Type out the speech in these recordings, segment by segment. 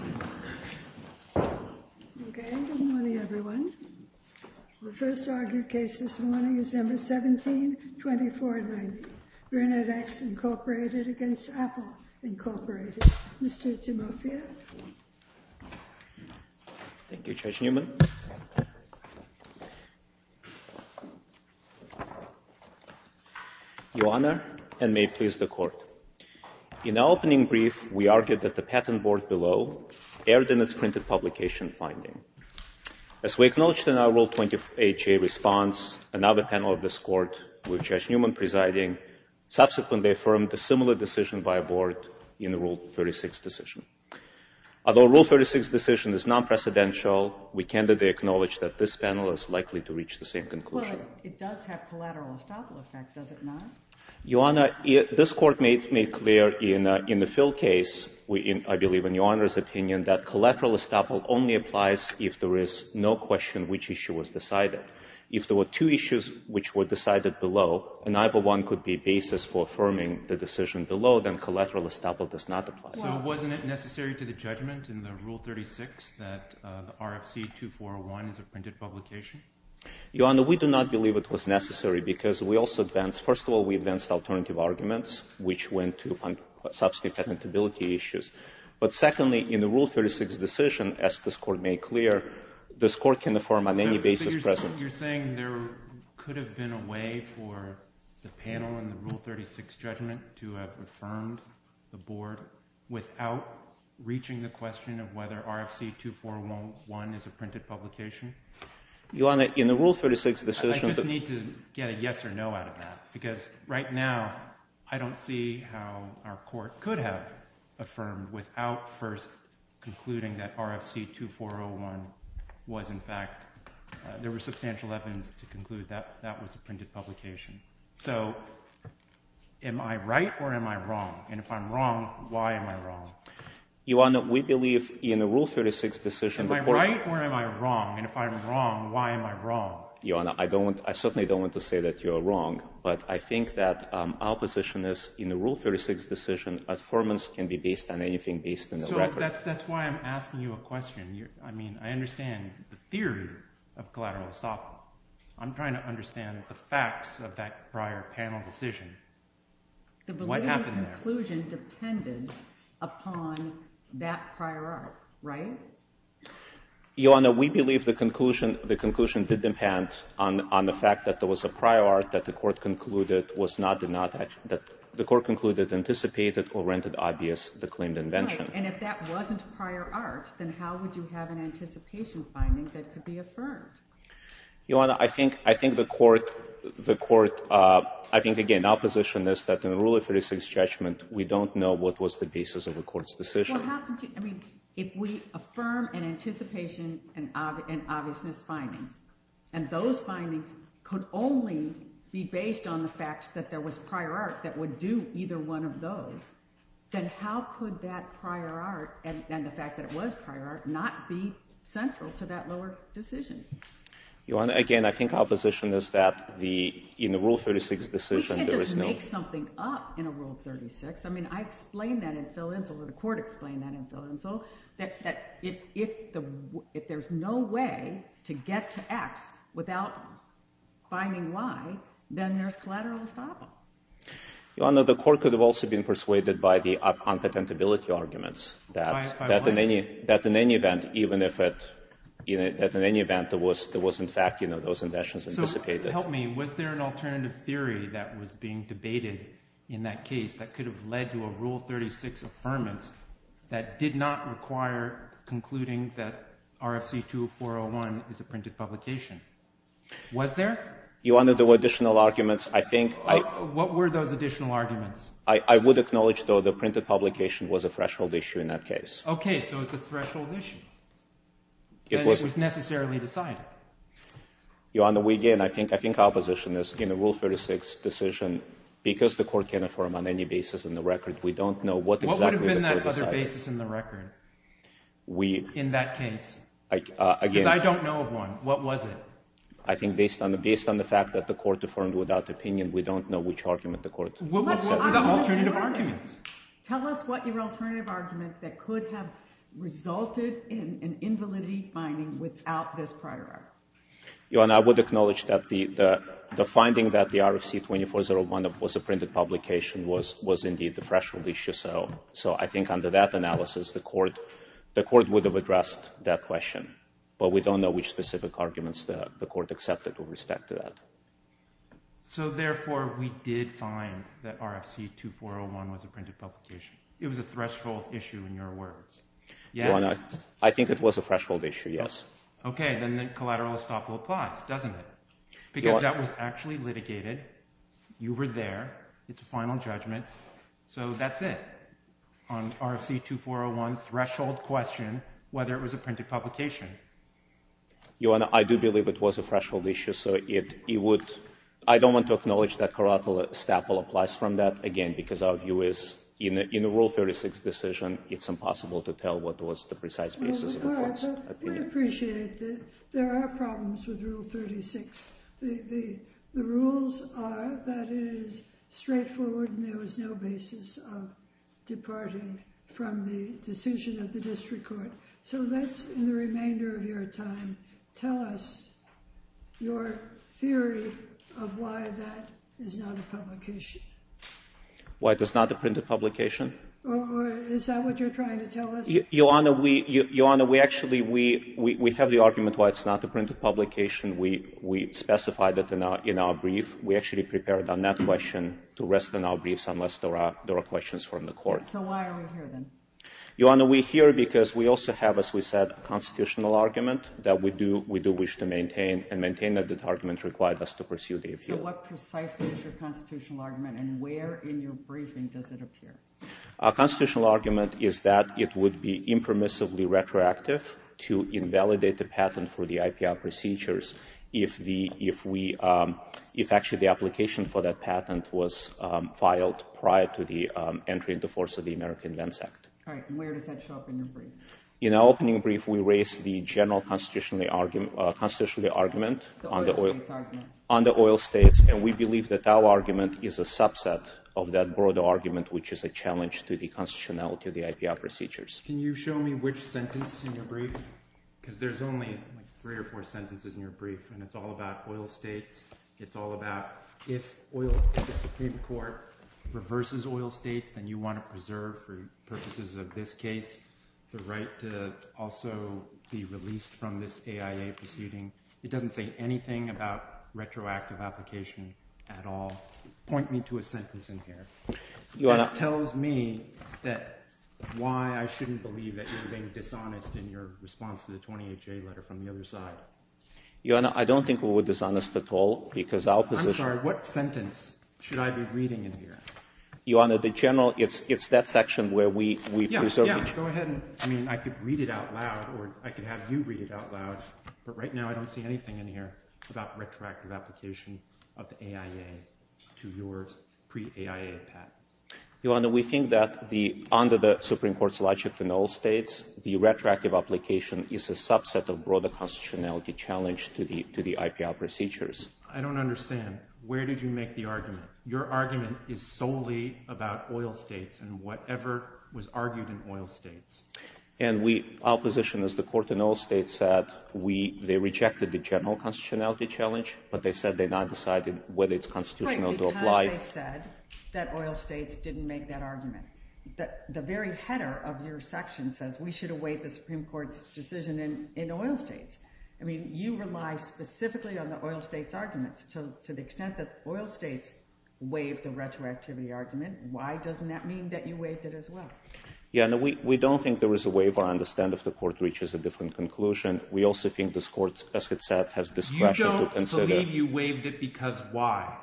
Okay. Good morning everyone. The first argued case this morning is No. 17-2490, BrinnetX Inc. v. Apple, Inc. Mr. Timofeyev. Thank you, Judge Newman. Your Honor, and may it please the Court. In our opening brief, we argued that the patent board below erred in its printed publication finding. As we acknowledged in our Rule 20HA response, another panel of this Court, with Judge Newman presiding, subsequently affirmed a similar decision by a board in the Rule 36 decision. Although Rule 36's decision is non-precedential, we candidly acknowledge that this panel is likely to reach the same conclusion. Well, it does have collateral estoppel effect, does it not? Your Honor, this Court made clear in the Phil case, I believe in Your Honor's opinion, that collateral estoppel only applies if there is no question which issue was decided. If there were two issues which were decided below and neither one could be basis for affirming the decision below, then collateral estoppel does not apply. So wasn't it necessary to the judgment in the Rule 36 that RFC 2401 is a printed publication? Your Honor, we do not believe it was necessary because we also advance alternative arguments which went to substantive patentability issues. But secondly, in the Rule 36 decision, as this Court made clear, this Court can affirm on any basis present. So you're saying there could have been a way for the panel in the Rule 36 judgment to have affirmed the board without reaching the question of whether RFC 2401 is a printed publication? Your Honor, in the Rule 36 decision the— I just need to get a yes or no out of that. Because right now I don't see how our Court could have affirmed without first concluding that RFC 2401 was in fact—there were substantial evidence to conclude that that was a printed publication. So am I right or am I wrong? And if I'm wrong, why am I wrong? Your Honor, we believe in the Rule 36 decision— Am I right or am I wrong? And if I'm wrong, why am I wrong? Your Honor, I don't—I certainly don't want to say that you are wrong. But I think that our position is in the Rule 36 decision, affirmance can be based on anything based on the record. So that's why I'm asking you a question. I mean, I understand the theory of collateral estoppel. I'm trying to understand the facts of that prior panel decision. What happened there? The validity of the conclusion depended upon that prior arc, right? Your Honor, we believe the conclusion did depend on the fact that there was a prior arc that the Court concluded was not—that the Court concluded anticipated or rendered obvious the claimed invention. Right. And if that wasn't prior arc, then how would you have an anticipation finding that could be affirmed? Your Honor, I think the Court—I think, again, our position is that in the Rule 36 judgment, we don't know what was the basis of the Court's decision. Your Honor, what happened to—I mean, if we affirm an anticipation and obviousness findings, and those findings could only be based on the fact that there was prior arc that would do either one of those, then how could that prior arc and the fact that it was prior arc not be central to that lower decision? Your Honor, again, I think our position is that in the Rule 36 decision, there is no— We can't just make something up in a Rule 36. I mean, I explained that in Phil Insel, and the Court explained that in Phil Insel, that if there's no way to get to X without finding Y, then there's collateral estoppel. Your Honor, the Court could have also been persuaded by the unpatentability arguments that in any event, even if it—that in any event, there was in fact, you know, those inventions anticipated. So help me. Was there an alternative theory that was being debated in that case that could have led to a Rule 36 affirmance that did not require concluding that RFC 20401 is a printed publication? Was there? Your Honor, there were additional arguments. I think I— What were those additional arguments? I would acknowledge, though, the printed publication was a threshold issue in that case. Okay. So it's a threshold issue. It was— Then it was necessarily decided. Your Honor, we again—I think our position is in a Rule 36 decision, because the Court can affirm on any basis in the record, we don't know what exactly the Court decided. What would have been that other basis in the record in that case? Again— Because I don't know of one. What was it? I think based on the fact that the Court affirmed without opinion, we don't know which argument the Court— What were the alternative arguments? Tell us what your alternative argument that could have resulted in an invalidity finding without this prior article? Your Honor, I would acknowledge that the finding that the RFC 2401 was a printed publication was indeed the threshold issue. So I think under that analysis, the Court would have addressed that question. But we don't know which specific arguments the Court accepted with respect to that. So therefore, we did find that RFC 2401 was a printed publication. It was a threshold issue in your words. Yes? Your Honor, I think it was a threshold issue, yes. Okay. Then the collateral estoppel applies, doesn't it? Your Honor— Because that was actually litigated. You were there. It's a final judgment. So that's it. On RFC 2401, threshold question, whether it was a printed publication. Your Honor, I do believe it was a threshold issue. So it would—I don't want to acknowledge that collateral estoppel applies from that, again, because our view is in a Rule 36 decision, it's impossible to tell what was the precise basis of the Court's opinion. We appreciate that there are problems with Rule 36. The rules are that it is straightforward and there was no basis of departing from the decision of the district court. So let's, in the remainder of your time, tell us your theory of why that is not a publication. Why it is not a printed publication? Is that what you're trying to tell us? Your Honor, we actually—we have the argument why it's not a printed publication. We specified it in our brief. We actually prepared on that question to rest on our briefs unless there are questions from the Court. So why are we here, then? Your Honor, we're here because we also have, as we said, a constitutional argument that we do wish to maintain and maintain that the argument required us to pursue the appeal. So what precisely is your constitutional argument and where in your briefing does it appear? Our constitutional argument is that it would be impermissibly retroactive to invalidate the patent for the IPR procedures if the—if we—if actually the application for that patent was filed prior to the entry into force of the American Vents Act. All right. And where does that show up in your brief? In our opening brief, we raised the general constitutional argument— The oil states argument. —on the oil states, and we believe that our argument is a subset of that broader argument, which is a challenge to the constitutionality of the IPR procedures. Can you show me which sentence in your brief? Because there's only three or four sentences in your brief, and it's all about oil states. It's all about if oil—if the Supreme Court reverses oil states, then you want to preserve for purposes of this case the right to also be released from this AIA proceeding. It doesn't say anything about retroactive application at all. Point me to a sentence in here. Your Honor— That tells me that—why I shouldn't believe that you're being dishonest in your response to the 20HA letter from the other side. Your Honor, I don't think we were dishonest at all, because our position— I'm sorry. What sentence should I be reading in here? Your Honor, the general—it's that section where we preserve each— Yeah. Yeah. Go ahead and—I mean, I could read it out loud, or I could have you read it out loud, but I don't see anything in here about retroactive application of the AIA to your pre-AIA path. Your Honor, we think that the—under the Supreme Court's logic in oil states, the retroactive application is a subset of broader constitutionality challenge to the IPL procedures. I don't understand. Where did you make the argument? Your argument is solely about oil states and whatever was argued in oil states. And we—our position is the court in oil states said we—they rejected the general constitutionality challenge, but they said they now decided whether it's constitutional to apply— Right, because they said that oil states didn't make that argument. The very header of your section says we should await the Supreme Court's decision in oil states. I mean, you rely specifically on the oil states' arguments. To the extent that oil states waived the retroactivity argument, why doesn't that mean that you waived it as well? Yeah, and we don't think there was a waiver. I understand if the court reaches a different conclusion. We also think this court, as it said, has discretion to consider— You don't believe you waived it because why?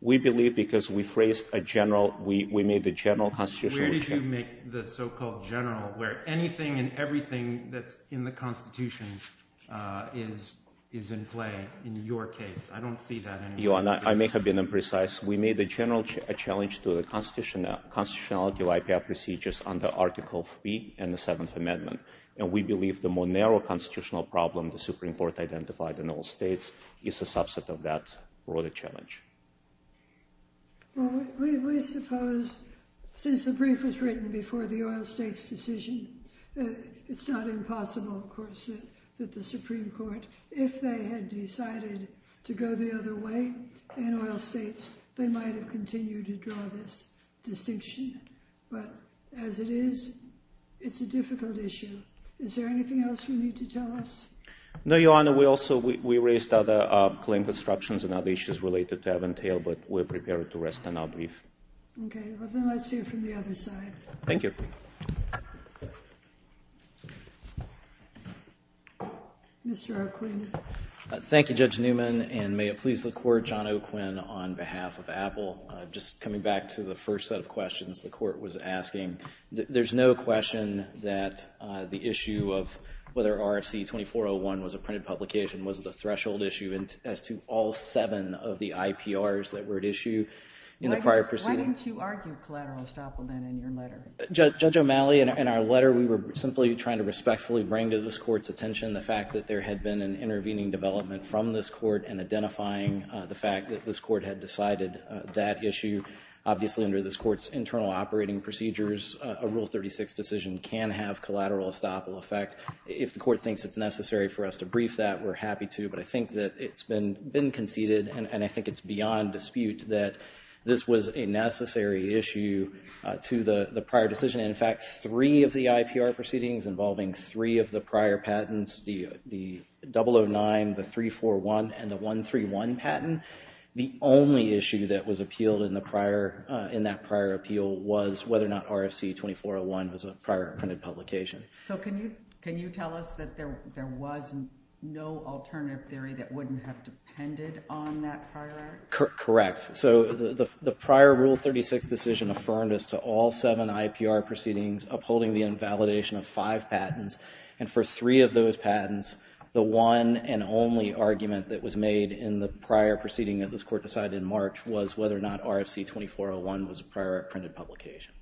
We believe because we phrased a general—we made the general constitutional— Where did you make the so-called general where anything and everything that's in the constitution is in play in your case? I don't see that in your case. Your Honor, I may have been imprecise. We made a general challenge to the constitutionality of IPR procedures under Article III and the Seventh Amendment, and we believe the more narrow constitutional problem the Supreme Court identified in oil states is a subset of that broader challenge. Well, we suppose, since the brief was written before the oil states' decision, it's not impossible, of course, that the Supreme Court, if they had decided to go the other way in oil states, they might have continued to draw this distinction. But as it is, it's a difficult issue. Is there anything else you need to tell us? No, Your Honor. We also—we raised other claim constructions and other issues related to Aventail, but we're prepared to rest on our brief. Okay. Well, then let's hear from the other side. Thank you. Mr. Arquin. Thank you, Judge Newman, and may it please the Court, John Arquin, on behalf of Apple. Just coming back to the first set of questions the Court was asking, there's no question that the issue of whether RFC 2401 was a printed publication was the threshold issue as to all seven of the IPRs that were at issue in the prior proceedings. Why didn't you argue collateral estoppel, then, in your letter? Judge O'Malley, in our letter, we were simply trying to respectfully bring to this Court's attention the fact that there had been an intervening development from this Court and identifying the fact that this Court had decided that issue. Obviously, under this Court's internal operating procedures, a Rule 36 decision can have collateral estoppel effect. If the Court thinks it's necessary for us to brief that, we're happy to, but I think that it's been conceded, and I think it's beyond dispute, that this was a necessary issue to the prior decision. In fact, three of the IPR proceedings involving three of the prior patents, the 009, the 341, and the 131 patent, the only issue that was appealed in that prior appeal was whether or not RFC 2401 was a prior printed publication. So can you tell us that there was no alternative theory that wouldn't have depended on that prior act? Correct. So the prior Rule 36 decision affirmed us to all seven IPR proceedings upholding the invalidation of five patents, and for three of those patents, the one and only argument that was made in the prior proceeding that this Court decided in March was whether or not RFC 2401 was a prior printed publication.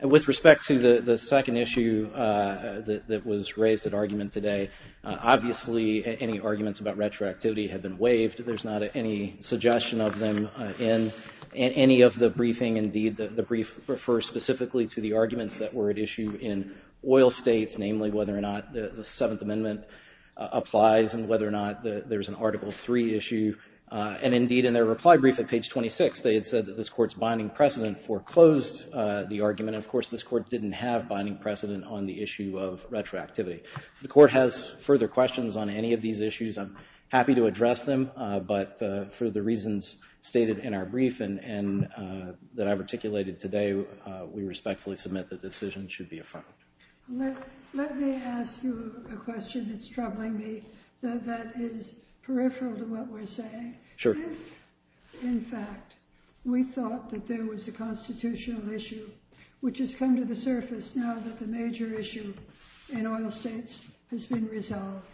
With respect to the second issue that was raised at argument today, obviously any arguments about retroactivity have been waived. There's not any suggestion of them in any of the briefing. Indeed, the brief refers specifically to the arguments that were at issue in oil states, namely whether or not the Seventh Amendment applies and whether or not there's an Article III issue. And indeed, in their reply brief at page 26, they had said that this Court's binding precedent foreclosed the argument. Of course, this Court didn't have binding precedent on the issue of retroactivity. If the Court has further questions on any of these issues, I'm happy to address them, but for the reasons stated in our brief and that I've articulated today, we respectfully submit the decision should be affirmed. Let me ask you a question that's troubling me that is peripheral to what we're saying. Sure. If, in fact, we thought that there was a constitutional issue which has come to the surface now that the major issue in oil states has been resolved,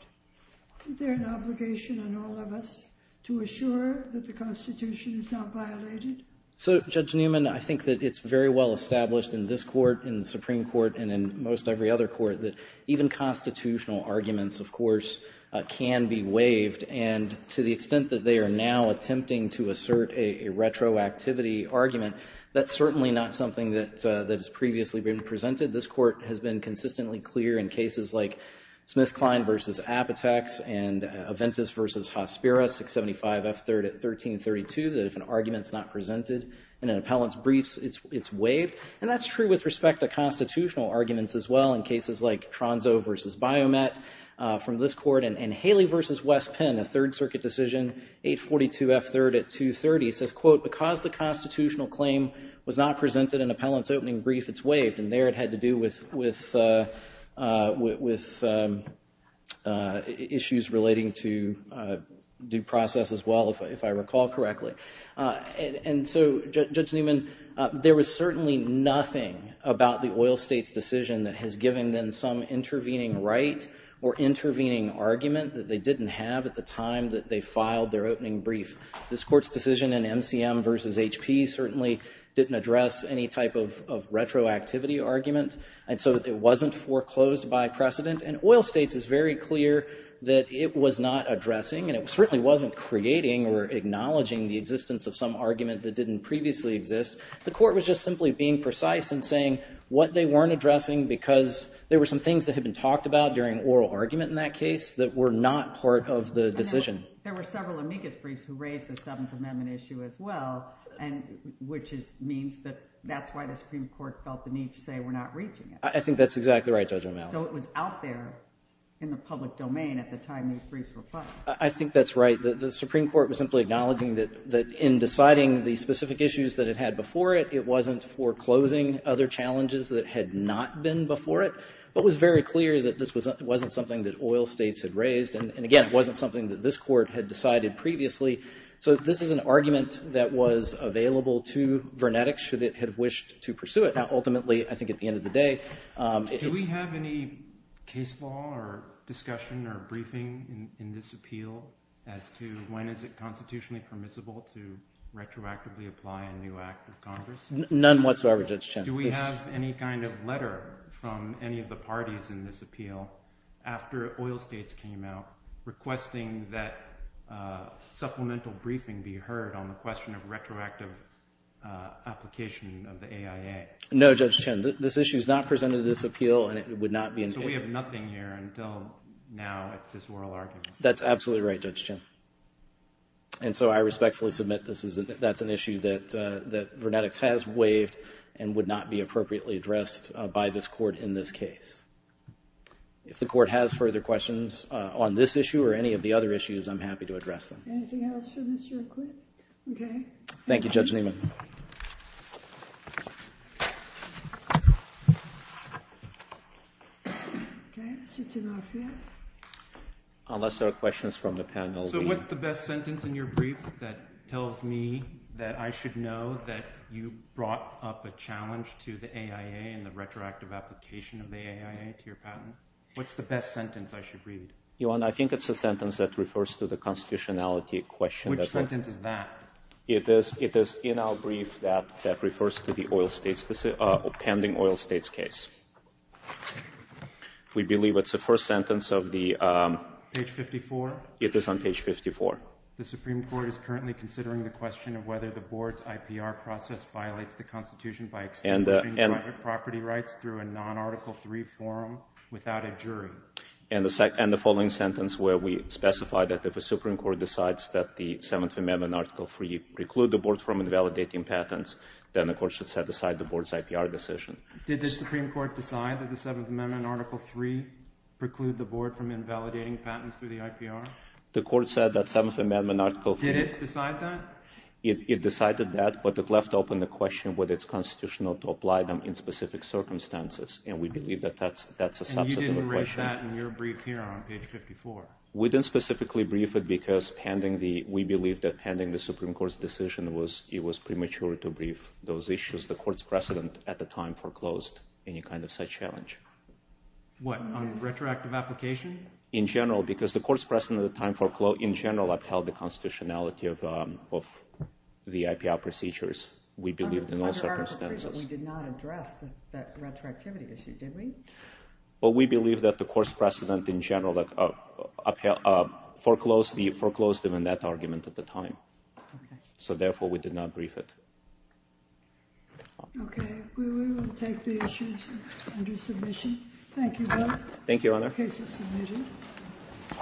isn't there an obligation on all of us to assure that the Constitution is not violated? So, Judge Newman, I think that it's very well established in this Court, in the Supreme Court, and in most every other Court that even constitutional arguments, of course, can be waived, and to the extent that they are now attempting to assert a retroactivity argument, that's certainly not something that has previously been presented. This Court has been consistently clear in cases like Smith-Klein v. Apateks and Aventis v. Hospira, 675 F.3rd at 1332, that if an argument is not presented in an appellant's brief, it's waived, and that's true with respect to constitutional arguments as well in cases like Tronzo v. Biomet from this Court and Haley v. West Penn, a Third Circuit decision, 842 F.3rd at 230, says, quote, because the constitutional claim was not presented in appellant's opening brief, it's waived, and there it had to do with issues relating to due process as well, if I recall correctly. And so, Judge Newman, there was certainly nothing about the oil state's decision that has given them some intervening right or intervening argument that they didn't have at the time that they filed their opening brief. This Court's decision in MCM v. HP certainly didn't address any type of retroactivity argument, and so it wasn't foreclosed by precedent. And oil states is very clear that it was not addressing, and it certainly wasn't creating or acknowledging the existence of some argument that didn't previously exist. The Court was just simply being precise in saying what they weren't addressing because there were some things that had been talked about during oral argument in that case that were not part of the decision. There were several amicus briefs who raised the Seventh Amendment issue as well, which means that that's why the Supreme Court felt the need to say we're not reaching it. I think that's exactly right, Judge O'Malley. So it was out there in the public domain at the time these briefs were filed. I think that's right. The Supreme Court was simply acknowledging that in deciding the specific issues that it had before it, it wasn't foreclosing other challenges that had not been before it, but was very clear that this wasn't something that oil states had raised. And again, it wasn't something that this Court had decided previously. So this is an argument that was available to Vernetic should it have wished to pursue it. Now, ultimately, I think at the end of the day, it's... Do we have any case law or discussion or briefing in this appeal as to when is it constitutionally permissible to retroactively apply a new act of Congress? None whatsoever, Judge Chen. after oil states came out requesting that supplemental briefing be heard on the question of retroactive application of the AIA. No, Judge Chen. This issue is not presented in this appeal, and it would not be... So we have nothing here until now at this oral argument. That's absolutely right, Judge Chen. And so I respectfully submit that's an issue that Vernetic has waived and would not be appropriately addressed by this Court in this case. If the Court has further questions on this issue or any of the other issues, I'm happy to address them. Anything else for Mr. McQuid? Okay. Thank you, Judge Niemann. Okay, Mr. Tanoffia. Unless there are questions from the panel. So what's the best sentence in your brief that tells me that I should know that you brought up a challenge to the AIA and the retroactive application of the AIA to your patent? What's the best sentence I should read? Your Honor, I think it's a sentence that refers to the constitutionality question. Which sentence is that? It is in our brief that refers to the pending oil states case. We believe it's the first sentence of the... Page 54? It is on page 54. The Supreme Court is currently considering the question of whether the Board's IPR process violates the constitution by establishing private property rights through a non-Article III forum without a jury. And the following sentence where we specify that if the Supreme Court decides that the Seventh Amendment Article III preclude the Board from invalidating patents, then the Court should set aside the Board's IPR decision. Did the Supreme Court decide that the Seventh Amendment Article III preclude the Board from invalidating patents through the IPR? The Court said that the Seventh Amendment Article III... Did it decide that? It decided that, but it left open the question whether it's constitutional to apply them in specific circumstances, and we believe that that's a substantive question. And you didn't raise that in your brief here on page 54? We didn't specifically brief it because we believe that pending the Supreme Court's decision, it was premature to brief those issues. The Court's precedent at the time foreclosed any kind of such challenge. What, on retroactive application? In general, because the Court's precedent at the time foreclosed, in general, upheld the constitutionality of the IPR procedures, we believe, in all circumstances. Under Article III, we did not address that retroactivity issue, did we? Well, we believe that the Court's precedent in general foreclosed them in that argument at the time. Okay. So therefore, we did not brief it. Thank you, Bill. Thank you, Your Honor.